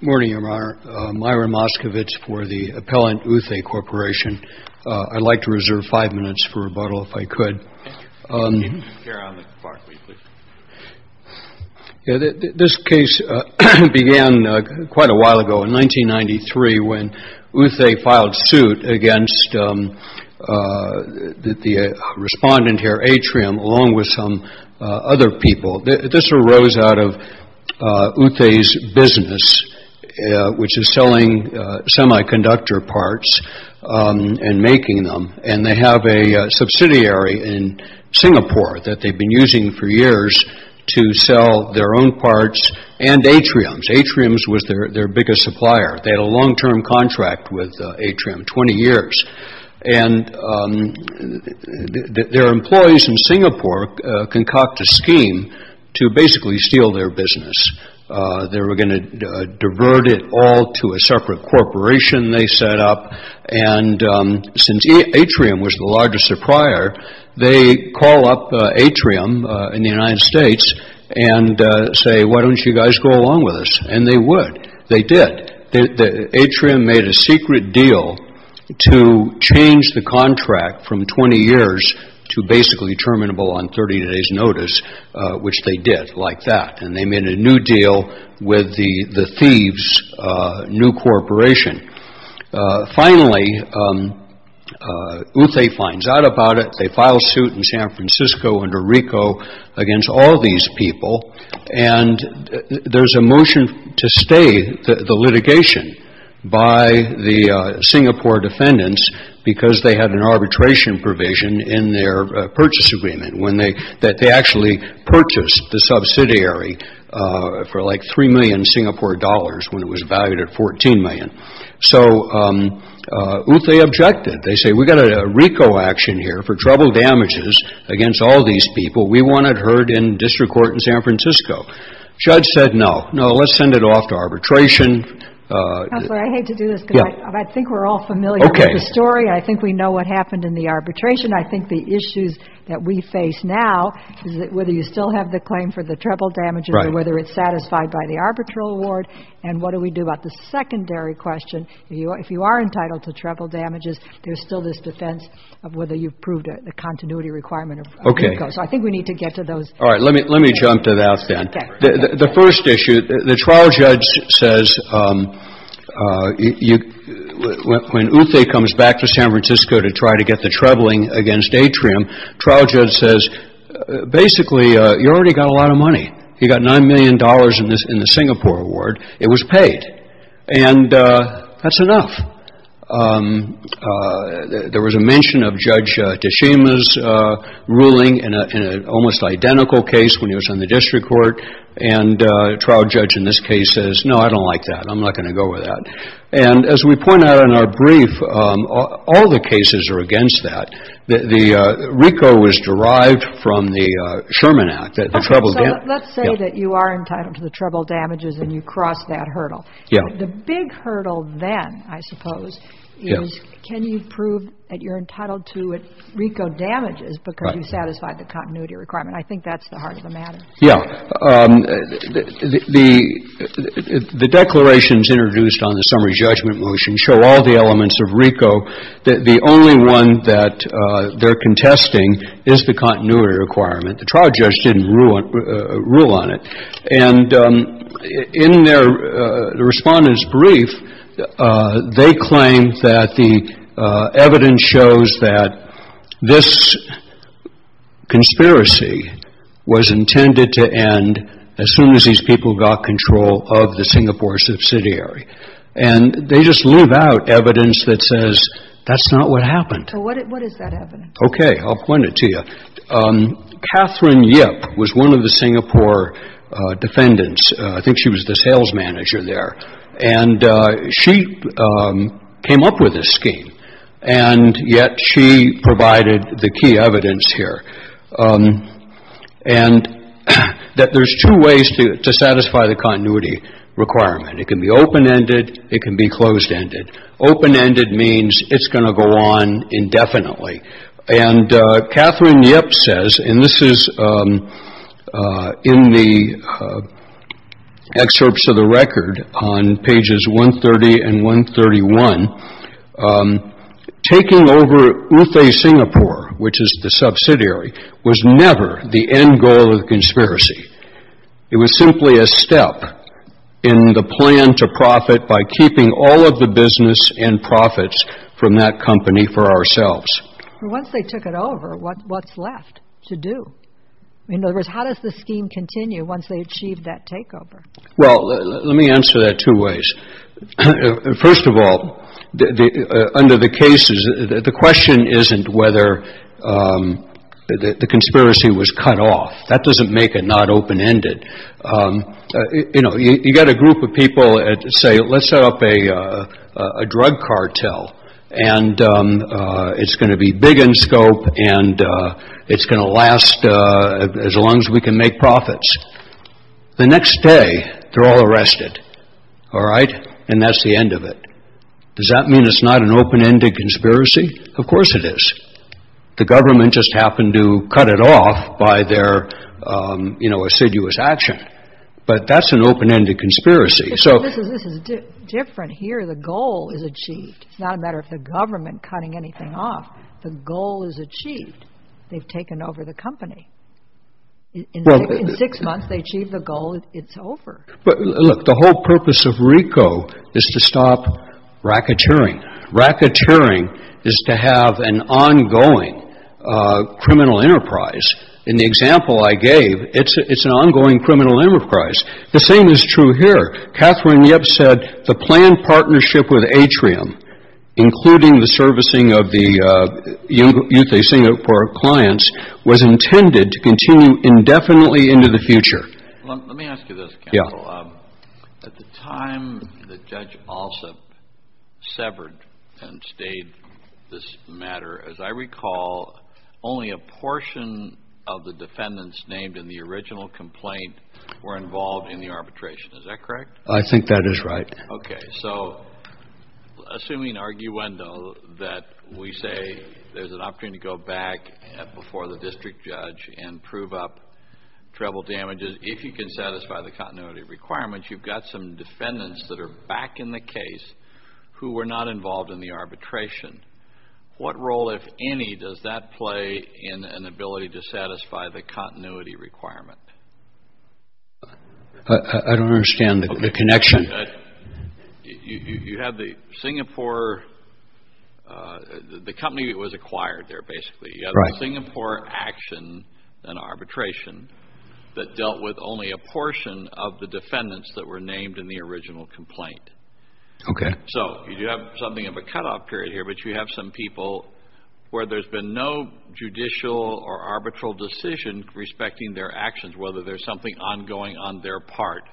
Morning, Your Honor. Myron Moskovitz for the Appellant Uthe Corporation. I'd like to reserve five minutes for rebuttal, if I could. This case began quite a while ago, in 1993, when Uthe filed suit against the respondent here, Aetrium, along with some other people. This arose out of Uthe's business, which is selling semiconductor parts and making them. And they have a subsidiary in Singapore that they've been using for years to sell their own parts and Aetrium's. Aetrium's was their biggest supplier. They had a long-term contract with Aetrium, 20 years. And their employees in Singapore concocted a scheme to basically steal their business. They were going to divert it all to a separate corporation they set up. And since Aetrium was the largest supplier, they call up Aetrium in the United States and say, Why don't you guys go along with us? And they would. They did. Aetrium made a secret deal to change the contract from 20 years to basically terminable on 30 days' notice, which they did like that. And they made a new deal with the thieves' new corporation. Finally, Uthe finds out about it. They file suit in San Francisco under RICO against all these people. And there's a motion to stay the litigation by the Singapore defendants because they had an arbitration provision in their purchase agreement, that they actually purchased the subsidiary for like 3 million Singapore dollars when it was valued at 14 million. So Uthe objected. They say, We've got a RICO action here for trouble damages against all these people. We want it heard in district court in San Francisco. Judge said, No, no, let's send it off to arbitration. I hate to do this, but I think we're all familiar with the story. I think we know what happened in the arbitration. I think the issues that we face now is whether you still have the claim for the trouble damages or whether it's satisfied by the arbitral award. And what do we do about the secondary question? If you are entitled to trouble damages, there's still this defense of whether you've proved a continuity requirement of RICO. So I think we need to get to those. All right. Let me jump to that then. The first issue, the trial judge says when Uthe comes back to San Francisco to try to get the troubling against Atrium, trial judge says, Basically, you already got a lot of money. You got nine million dollars in this in the Singapore award. It was paid. And that's enough. There was a mention of Judge Tashima's ruling in an almost identical case when he was on the district court. And trial judge in this case says, No, I don't like that. I'm not going to go with that. And as we point out in our brief, all the cases are against that. The RICO was derived from the Sherman Act. Let's say that you are entitled to the trouble damages and you cross that hurdle. Yeah. The big hurdle then, I suppose, is can you prove that you're entitled to RICO damages because you satisfied the continuity requirement? I think that's the heart of the matter. Yeah. The declarations introduced on the summary judgment motion show all the elements of RICO. The only one that they're contesting is the continuity requirement. The trial judge didn't rule on it. And in their respondent's brief, they claim that the evidence shows that this conspiracy was intended to end as soon as these people got control of the Singapore subsidiary. And they just leave out evidence that says that's not what happened. So what is that evidence? Okay. I'll point it to you. Catherine Yip was one of the Singapore defendants. I think she was the sales manager there. And she came up with this scheme. And yet she provided the key evidence here. And that there's two ways to satisfy the continuity requirement. It can be open-ended. It can be closed-ended. Open-ended means it's going to go on indefinitely. And Catherine Yip says, and this is in the excerpts of the record on pages 130 and 131, taking over UFA Singapore, which is the subsidiary, was never the end goal of the conspiracy. It was simply a step in the plan to profit by keeping all of the business and profits from that company for ourselves. Once they took it over, what's left to do? In other words, how does the scheme continue once they achieve that takeover? Well, let me answer that two ways. First of all, under the cases, the question isn't whether the conspiracy was cut off. That doesn't make it not open-ended. You know, you've got a group of people that say, let's set up a drug cartel. And it's going to be big in scope. And it's going to last as long as we can make profits. The next day, they're all arrested. All right. And that's the end of it. Does that mean it's not an open-ended conspiracy? Of course it is. The government just happened to cut it off by their, you know, assiduous action. But that's an open-ended conspiracy. This is different here. The goal is achieved. It's not a matter of the government cutting anything off. The goal is achieved. They've taken over the company. In six months, they achieve the goal. It's over. But look, the whole purpose of RICO is to stop racketeering. Racketeering is to have an ongoing criminal enterprise. In the example I gave, it's an ongoing criminal enterprise. The same is true here. Catherine Yip said the planned partnership with Atrium, including the servicing of the youth of Singapore clients, was intended to continue indefinitely into the future. Let me ask you this, counsel. Yeah. At the time that Judge Alsop severed and stayed this matter, as I recall, only a portion of the defendants named in the original complaint were involved in the arbitration. Is that correct? I think that is right. Okay. So assuming arguendo that we say there's an opportunity to go back before the district judge and prove up treble damages, if you can satisfy the continuity requirements, you've got some defendants that are back in the case who were not involved in the arbitration. What role, if any, does that play in an ability to satisfy the continuity requirement? I don't understand the connection. You have the Singapore – the company that was acquired there, basically. Right. The Singapore action and arbitration that dealt with only a portion of the defendants that were named in the original complaint. Okay. So you have something of a cutoff period here, but you have some people where there's been no judicial or arbitral decision respecting their actions, whether there's something ongoing on their part.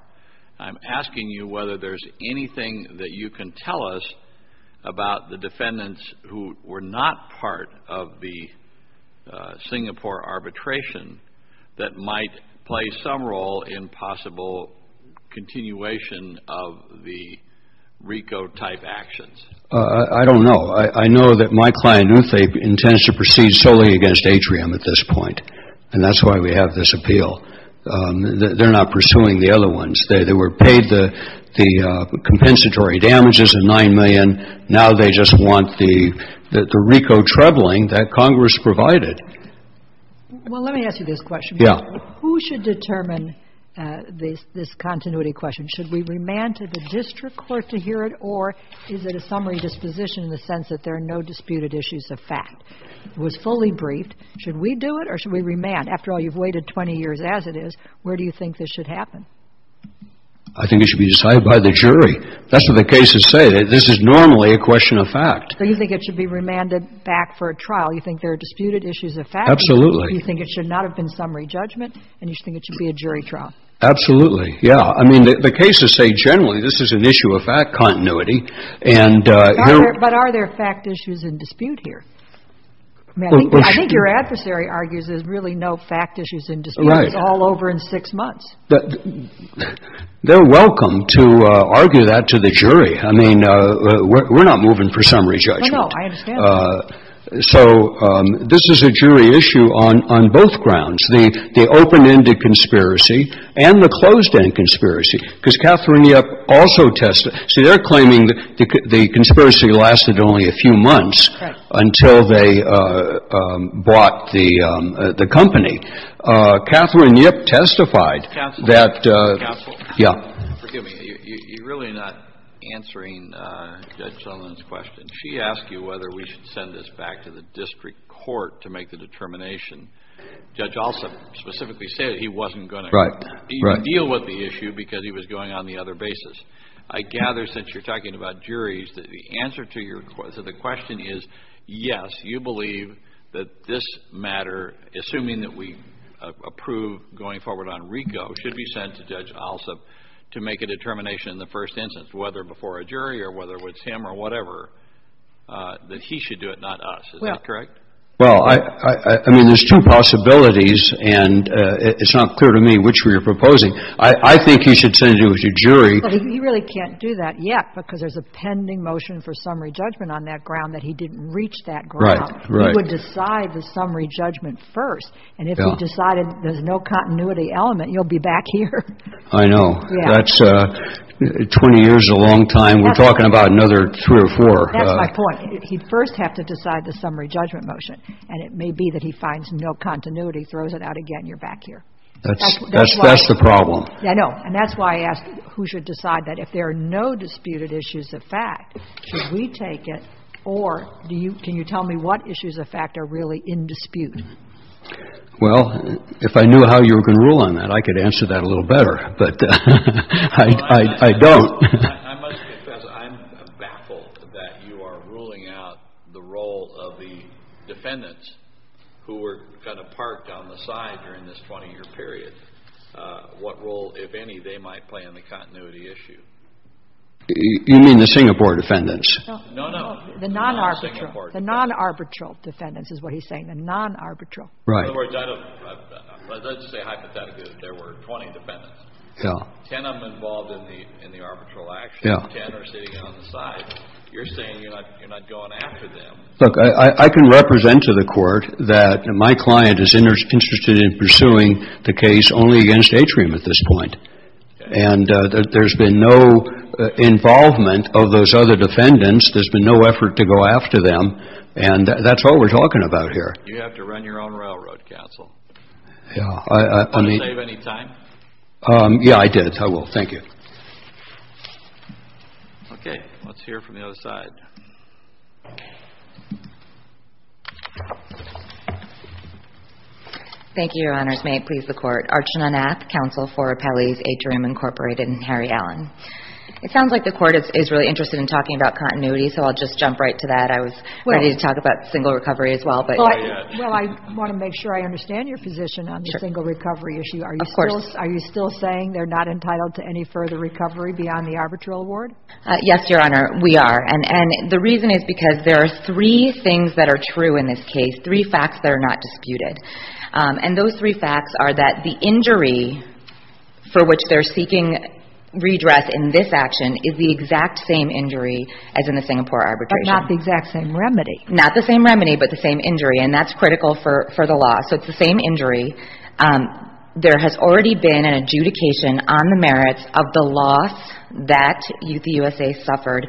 I'm asking you whether there's anything that you can tell us about the defendants who were not part of the Singapore arbitration that might play some role in possible continuation of the RICO-type actions. I don't know. I know that my client, Uthe, intends to proceed solely against Atrium at this point, and that's why we have this appeal. They're not pursuing the other ones. They were paid the compensatory damages of $9 million. Now they just want the RICO troubling that Congress provided. Well, let me ask you this question. Yeah. Who should determine this continuity question? Should we remand to the district court to hear it, or is it a summary disposition in the sense that there are no disputed issues of fact? It was fully briefed. Should we do it, or should we remand? After all, you've waited 20 years as it is. Where do you think this should happen? I think it should be decided by the jury. That's what the cases say. This is normally a question of fact. So you think it should be remanded back for a trial? You think there are disputed issues of fact? Absolutely. You think it should not have been summary judgment, and you think it should be a jury trial? Absolutely. Yeah. I mean, the cases say generally this is an issue of fact continuity. But are there fact issues in dispute here? I think your adversary argues there's really no fact issues in dispute. Right. It's all over in six months. They're welcome to argue that to the jury. I mean, we're not moving for summary judgment. No, no. I understand that. So this is a jury issue on both grounds. The open-ended conspiracy and the closed-end conspiracy. Because Catherine Yip also testified. See, they're claiming the conspiracy lasted only a few months until they brought the company. Catherine Yip testified. Counsel? Counsel? Yeah. Forgive me. You're really not answering Judge Sullivan's question. She asked you whether we should send this back to the district court to make the determination. Judge Alsop specifically said he wasn't going to. Right. You deal with the issue because he was going on the other basis. I gather since you're talking about juries that the answer to your question is yes, you believe that this matter, assuming that we approve going forward on RICO, should be sent to Judge Alsop to make a determination in the first instance, whether before a jury or whether it was him or whatever, that he should do it, not us. Is that correct? Well, I mean, there's two possibilities. And it's not clear to me which we are proposing. I think he should send it to a jury. But he really can't do that yet because there's a pending motion for summary judgment on that ground that he didn't reach that ground. Right, right. He would decide the summary judgment first. And if he decided there's no continuity element, you'll be back here. I know. That's 20 years is a long time. We're talking about another three or four. That's my point. He'd first have to decide the summary judgment motion. And it may be that he finds no continuity, throws it out again, you're back here. That's the problem. I know. And that's why I asked who should decide that. If there are no disputed issues of fact, should we take it, or can you tell me what issues of fact are really in dispute? Well, if I knew how you were going to rule on that, I could answer that a little better. But I don't. I must confess, I'm baffled that you are ruling out the role of the defendants who were kind of parked on the side during this 20-year period, what role, if any, they might play in the continuity issue. You mean the Singapore defendants? No, no. The non-arbitral. The non-arbitral defendants is what he's saying, the non-arbitral. Right. In other words, let's just say hypothetically that there were 20 defendants. Yeah. Ten of them involved in the arbitral action. Yeah. Ten are sitting out on the side. You're saying you're not going after them. Look, I can represent to the Court that my client is interested in pursuing the case only against Atrium at this point. And there's been no involvement of those other defendants. There's been no effort to go after them. And that's what we're talking about here. You have to run your own railroad council. Yeah. Are you going to save any time? Yeah, I did. I will. Thank you. Okay. Let's hear from the other side. Thank you, Your Honors. May it please the Court. Archana Nath, Counsel for Appellees, Atrium Incorporated, and Harry Allen. It sounds like the Court is really interested in talking about continuity, so I'll just jump right to that. I was ready to talk about single recovery as well. Well, I want to make sure I understand your position on the single recovery issue. Of course. Are you still saying they're not entitled to any further recovery beyond the arbitral award? Yes, Your Honor, we are. And the reason is because there are three things that are true in this case, three facts that are not disputed. And those three facts are that the injury for which they're seeking redress in this action is the exact same injury as in the Singapore arbitration. But not the exact same remedy. Not the same remedy, but the same injury, and that's critical for the law. So it's the same injury. There has already been an adjudication on the merits of the loss that the USA suffered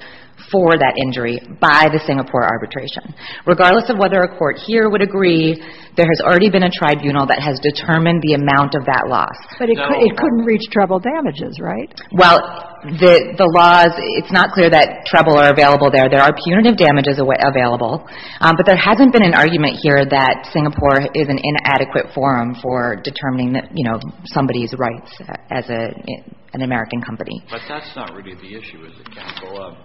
for that injury by the Singapore arbitration. Regardless of whether a court here would agree, there has already been a tribunal that has determined the amount of that loss. But it couldn't reach treble damages, right? Well, the laws, it's not clear that treble are available there. There are punitive damages available. But there hasn't been an argument here that Singapore is an inadequate forum for determining somebody's rights as an American company. But that's not really the issue, is it, Counsel,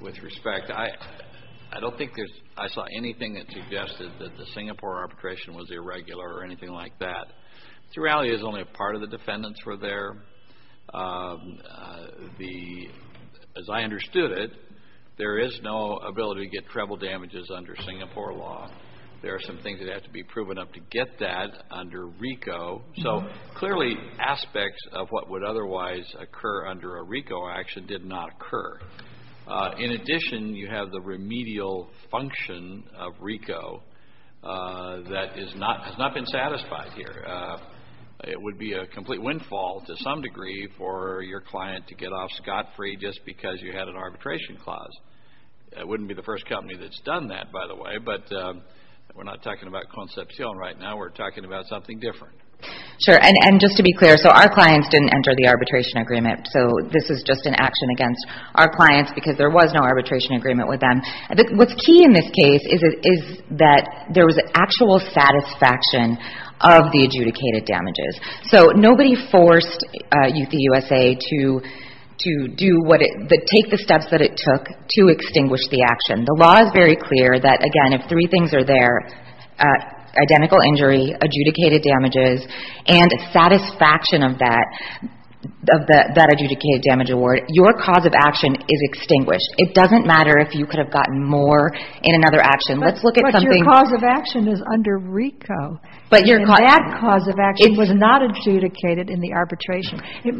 with respect? I don't think I saw anything that suggested that the Singapore arbitration was irregular or anything like that. The reality is only a part of the defendants were there. As I understood it, there is no ability to get treble damages under Singapore law. There are some things that have to be proven up to get that under RICO. So clearly aspects of what would otherwise occur under a RICO action did not occur. In addition, you have the remedial function of RICO that has not been satisfied here. It would be a complete windfall to some degree for your client to get off scot-free just because you had an arbitration clause. It wouldn't be the first company that's done that, by the way, but we're not talking about Concepcion right now. We're talking about something different. Sure, and just to be clear, so our clients didn't enter the arbitration agreement. So this is just an action against our clients because there was no arbitration agreement with them. What's key in this case is that there was actual satisfaction of the adjudicated damages. So nobody forced the USA to take the steps that it took to extinguish the action. The law is very clear that, again, if three things are there, identical injury, adjudicated damages, and satisfaction of that adjudicated damage award, your cause of action is extinguished. It doesn't matter if you could have gotten more in another action. But your cause of action is under RICO. That cause of action was not adjudicated in the arbitration. It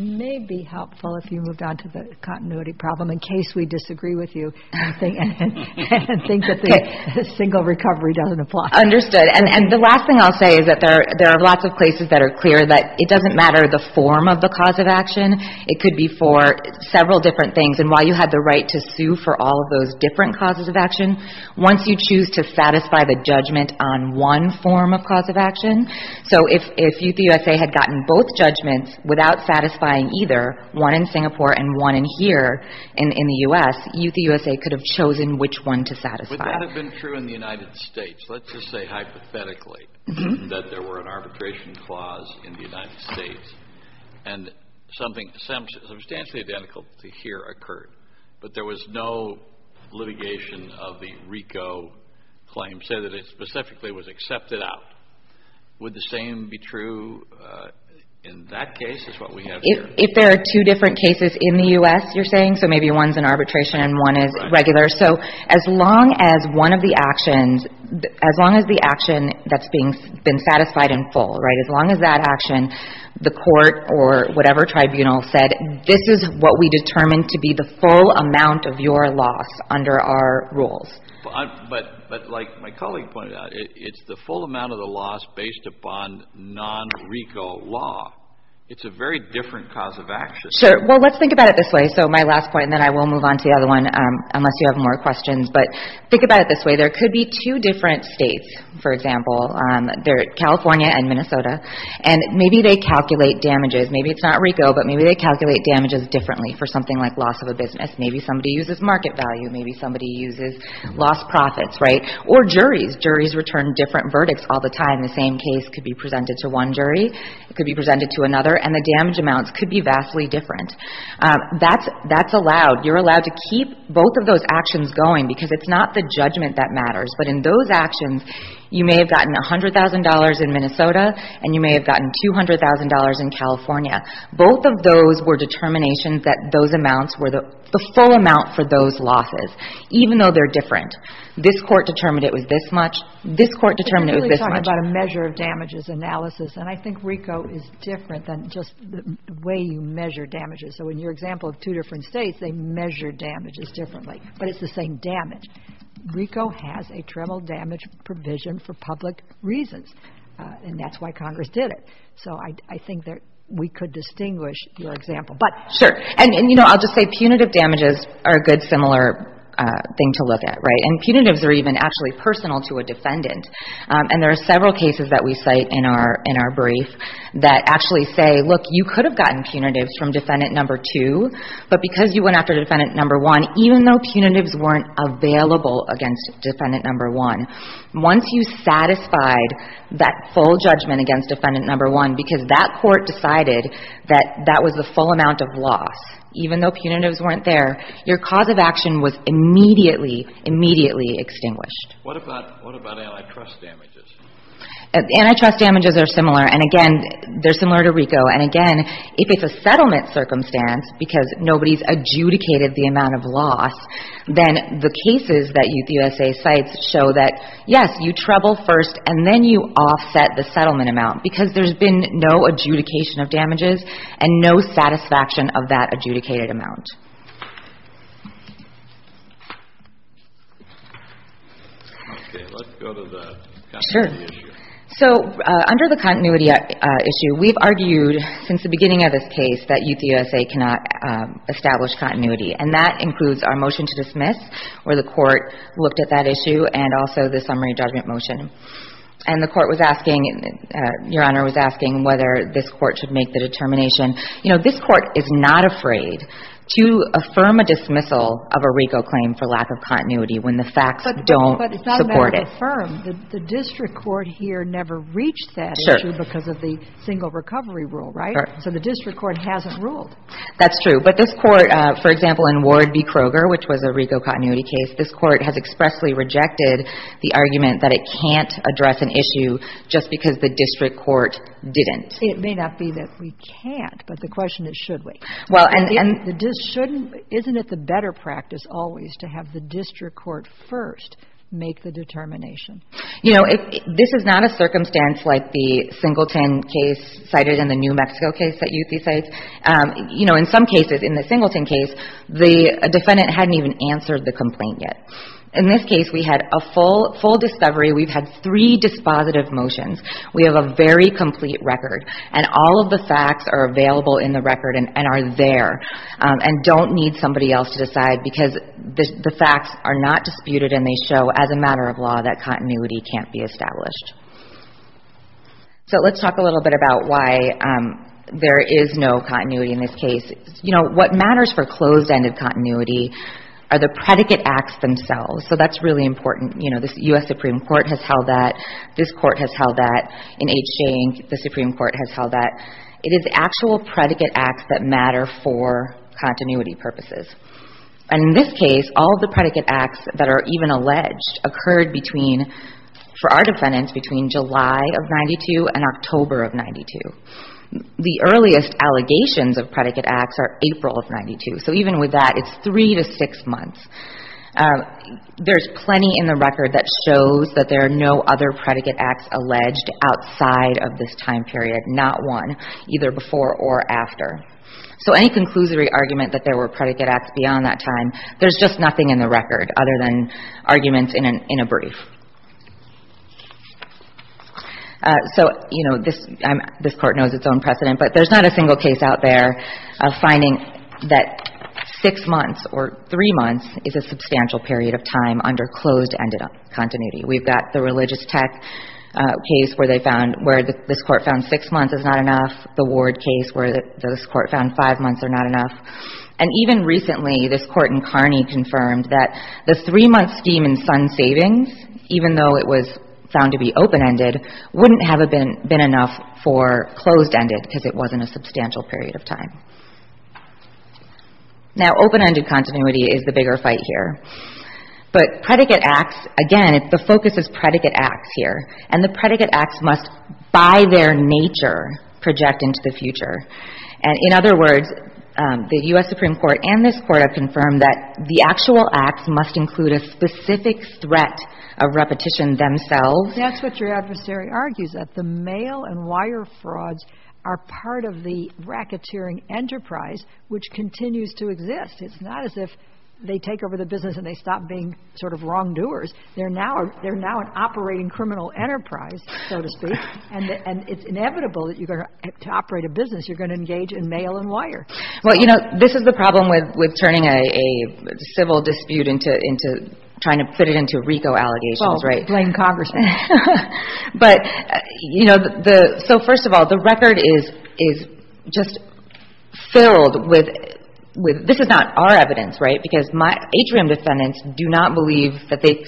may be helpful if you moved on to the continuity problem in case we disagree with you and think that the single recovery doesn't apply. Understood. And the last thing I'll say is that there are lots of places that are clear that it doesn't matter the form of the cause of action. It could be for several different things. And while you had the right to sue for all of those different causes of action, once you choose to satisfy the judgment on one form of cause of action, so if Youth USA had gotten both judgments without satisfying either, one in Singapore and one in here in the U.S., Youth USA could have chosen which one to satisfy. Would that have been true in the United States? Let's just say hypothetically that there were an arbitration clause in the United States and something substantially identical to here occurred, but there was no litigation of the RICO claim, say that it specifically was accepted out. Would the same be true in that case as what we have here? If there are two different cases in the U.S., you're saying, so maybe one's an arbitration and one is regular. So as long as one of the actions, as long as the action that's been satisfied in full, right, as long as that action, the court or whatever tribunal said, this is what we determine to be the full amount of your loss under our rules. But like my colleague pointed out, it's the full amount of the loss based upon non-RICO law. It's a very different cause of action. Sure. Well, let's think about it this way. So my last point, and then I will move on to the other one unless you have more questions, but think about it this way. There could be two different states, for example, California and Minnesota, and maybe they calculate damages. Maybe it's not RICO, but maybe they calculate damages differently for something like loss of a business. Maybe somebody uses market value. Maybe somebody uses lost profits, right, or juries. Juries return different verdicts all the time. The same case could be presented to one jury. It could be presented to another, and the damage amounts could be vastly different. That's allowed. You're allowed to keep both of those actions going because it's not the judgment that matters. But in those actions, you may have gotten $100,000 in Minnesota, and you may have gotten $200,000 in California. Both of those were determinations that those amounts were the full amount for those losses, even though they're different. This court determined it was this much. This court determined it was this much. But you're really talking about a measure of damages analysis, and I think RICO is different than just the way you measure damages. So in your example of two different states, they measure damages differently, but it's the same damage. RICO has a treble damage provision for public reasons, and that's why Congress did it. So I think we could distinguish your example. But, sure, and, you know, I'll just say punitive damages are a good similar thing to look at, right? And punitives are even actually personal to a defendant, and there are several cases that we cite in our brief that actually say, look, you could have gotten punitives from defendant number two, but because you went after defendant number one, even though punitives weren't available against defendant number one, once you satisfied that full judgment against defendant number one, because that court decided that that was the full amount of loss, even though punitives weren't there, your cause of action was immediately, immediately extinguished. What about antitrust damages? Antitrust damages are similar, and, again, they're similar to RICO. And, again, if it's a settlement circumstance, because nobody's adjudicated the amount of loss, then the cases that the U.S.A. cites show that, yes, you treble first, and then you offset the settlement amount, because there's been no adjudication of damages and no satisfaction of that adjudicated amount. Okay. Let's go to the continuity issue. Sure. So under the continuity issue, we've argued since the beginning of this case that Youth USA cannot establish continuity, and that includes our motion to dismiss, where the Court looked at that issue and also the summary judgment motion. And the Court was asking, Your Honor, was asking whether this Court should make the determination, you know, this Court is not afraid to affirm a dismissal of a RICO claim for lack of continuity when the facts don't support it. But it's not a matter of affirm. The district court here never reached that issue because of the single recovery rule, right? Correct. So the district court hasn't ruled. That's true. But this Court, for example, in Ward v. Kroger, which was a RICO continuity case, this Court has expressly rejected the argument that it can't address an issue just because the district court didn't. It may not be that we can't, but the question is, should we? Isn't it the better practice always to have the district court first make the determination? You know, this is not a circumstance like the Singleton case cited in the New Mexico case that Youth USA. You know, in some cases, in the Singleton case, the defendant hadn't even answered the complaint yet. In this case, we had a full discovery. We've had three dispositive motions. We have a very complete record, and all of the facts are available in the record and are there and don't need somebody else to decide because the facts are not disputed and they show as a matter of law that continuity can't be established. So let's talk a little bit about why there is no continuity in this case. You know, what matters for closed-ended continuity are the predicate acts themselves. So that's really important. You know, this U.S. Supreme Court has held that. This court has held that. In H. J. Inc., the Supreme Court has held that. It is actual predicate acts that matter for continuity purposes. And in this case, all of the predicate acts that are even alleged occurred between, for our defendants, between July of 92 and October of 92. The earliest allegations of predicate acts are April of 92. So even with that, it's three to six months. There's plenty in the record that shows that there are no other predicate acts alleged outside of this time period, not one, either before or after. So any conclusory argument that there were predicate acts beyond that time, there's just nothing in the record other than arguments in a brief. So, you know, this Court knows its own precedent, but there's not a single case out there of finding that six months or three months is a substantial period of time under closed-ended continuity. We've got the Religious Tech case where they found, where this Court found six months is not enough, the Ward case where this Court found five months are not enough. And even recently, this Court in Kearney confirmed that the three-month scheme in Sun Savings, even though it was found to be open-ended, wouldn't have been enough for closed-ended because it wasn't a substantial period of time. Now, open-ended continuity is the bigger fight here. But predicate acts, again, the focus is predicate acts here. And the predicate acts must, by their nature, project into the future. And in other words, the U.S. Supreme Court and this Court have confirmed that the actual acts must include a specific threat of repetition themselves. That's what your adversary argues, that the mail and wire frauds are part of the racketeering enterprise which continues to exist. It's not as if they take over the business and they stop being sort of wrongdoers. They're now an operating criminal enterprise, so to speak. And it's inevitable that you're going to operate a business, you're going to engage in mail and wire. Well, you know, this is the problem with turning a civil dispute into trying to put it into RICO allegations, right? Blame Congress. But, you know, so first of all, the record is just filled with – this is not our evidence, right? Because my atrium defendants do not believe that they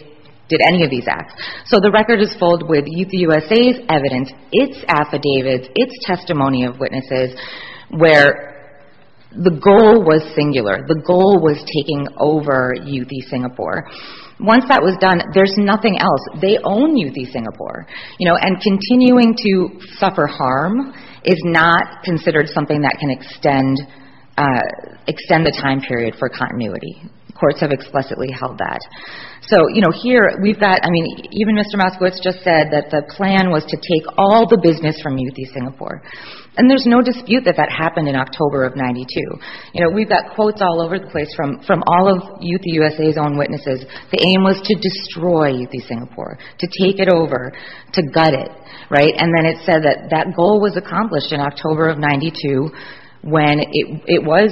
did any of these acts. So the record is filled with Youth USA's evidence, its affidavits, its testimony of witnesses, where the goal was singular. The goal was taking over Youthy Singapore. Once that was done, there's nothing else. They own Youthy Singapore. You know, and continuing to suffer harm is not considered something that can extend the time period for continuity. Courts have explicitly held that. So, you know, here we've got – I mean, even Mr. Moskowitz just said that the plan was to take all the business from Youthy Singapore. And there's no dispute that that happened in October of 92. You know, we've got quotes all over the place from all of Youthy USA's own witnesses. The aim was to destroy Youthy Singapore, to take it over, to gut it, right? And then it said that that goal was accomplished in October of 92 when it was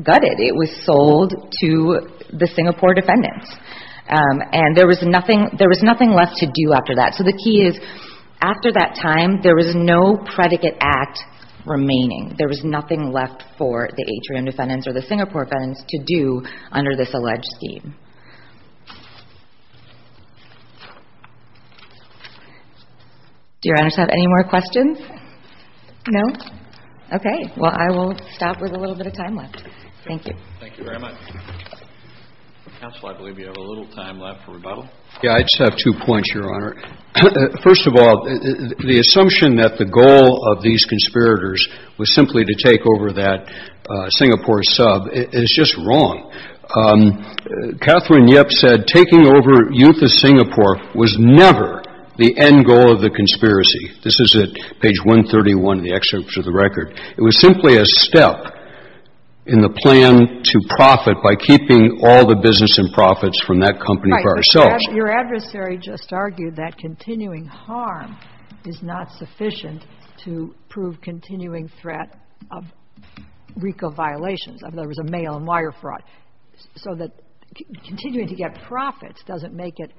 gutted. It was sold to the Singapore defendants. And there was nothing left to do after that. So the key is, after that time, there was no predicate act remaining. There was nothing left for the atrium defendants or the Singapore defendants to do under this alleged scheme. Do Your Honors have any more questions? No? Okay. Well, I will stop with a little bit of time left. Thank you. Thank you very much. Counsel, I believe you have a little time left for rebuttal. Yeah, I just have two points, Your Honor. First of all, the assumption that the goal of these conspirators was simply to take over that Singapore sub is just wrong. Catherine Yip said taking over Youthy Singapore was never the end goal of the conspiracy. This is at page 131 in the excerpt to the record. It was simply a step in the plan to profit by keeping all the business and profits from that company for ourselves. Your adversary just argued that continuing harm is not sufficient to prove continuing threat of RICO violations. There was a mail and wire fraud. So that continuing to get profits doesn't make it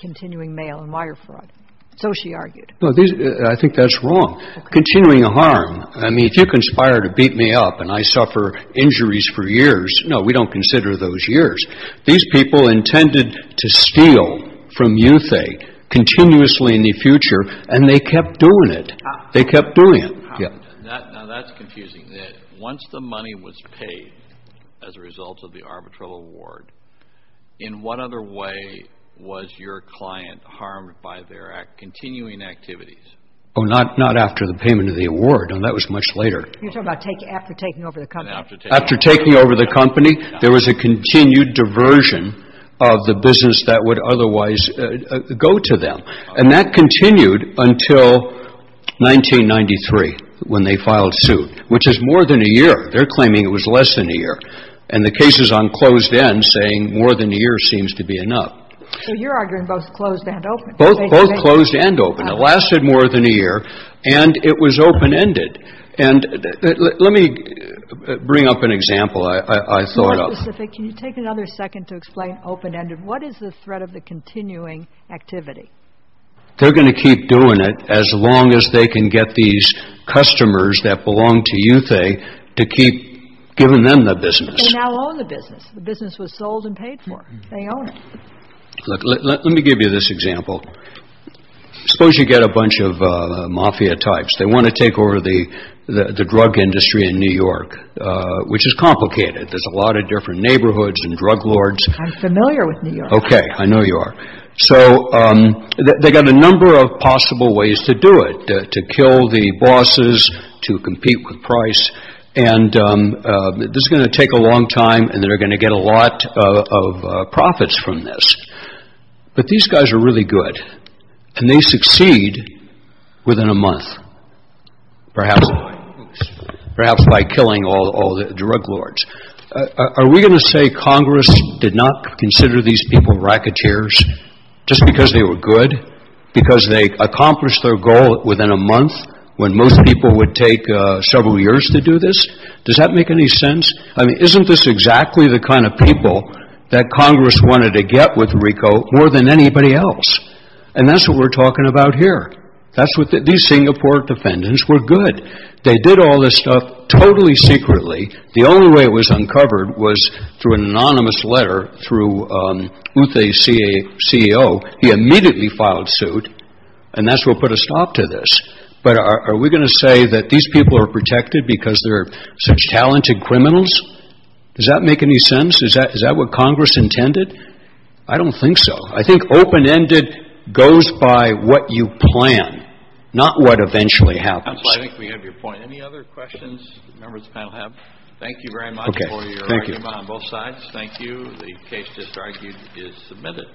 continuing mail and wire fraud. So she argued. I think that's wrong. Continuing a harm. I mean, if you conspire to beat me up and I suffer injuries for years, no, we don't consider those years. These people intended to steal from Youthy continuously in the future, and they kept doing it. They kept doing it. Now, that's confusing. Once the money was paid as a result of the arbitral award, in what other way was your client harmed by their continuing activities? Oh, not after the payment of the award. That was much later. You're talking about after taking over the company. After taking over the company, there was a continued diversion of the business that would otherwise go to them. And that continued until 1993 when they filed suit, which is more than a year. They're claiming it was less than a year. And the case is on closed end, saying more than a year seems to be enough. So you're arguing both closed and open. Both closed and open. It lasted more than a year, and it was open-ended. And let me bring up an example I thought of. Mr. Pacific, can you take another second to explain open-ended? What is the threat of the continuing activity? They're going to keep doing it as long as they can get these customers that belong to Youthy to keep giving them the business. But they now own the business. The business was sold and paid for. They own it. Look, let me give you this example. Suppose you get a bunch of mafia types. They want to take over the drug industry in New York, which is complicated. There's a lot of different neighborhoods and drug lords. I'm familiar with New York. Okay. I know you are. So they've got a number of possible ways to do it, to kill the bosses, to compete with price. And this is going to take a long time, and they're going to get a lot of profits from this. But these guys are really good, and they succeed within a month, perhaps by killing all the drug lords. Are we going to say Congress did not consider these people racketeers just because they were good, because they accomplished their goal within a month when most people would take several years to do this? Does that make any sense? I mean, isn't this exactly the kind of people that Congress wanted to get with RICO more than anybody else? And that's what we're talking about here. These Singapore defendants were good. They did all this stuff totally secretly. The only way it was uncovered was through an anonymous letter through Uthe's CEO. He immediately filed suit, and that's what put a stop to this. But are we going to say that these people are protected because they're such talented criminals? Does that make any sense? Is that what Congress intended? I don't think so. I think open-ended goes by what you plan, not what eventually happens. I think we have your point. Any other questions the members of the panel have? Thank you very much for your argument on both sides. Thank you. The case just argued is submitted.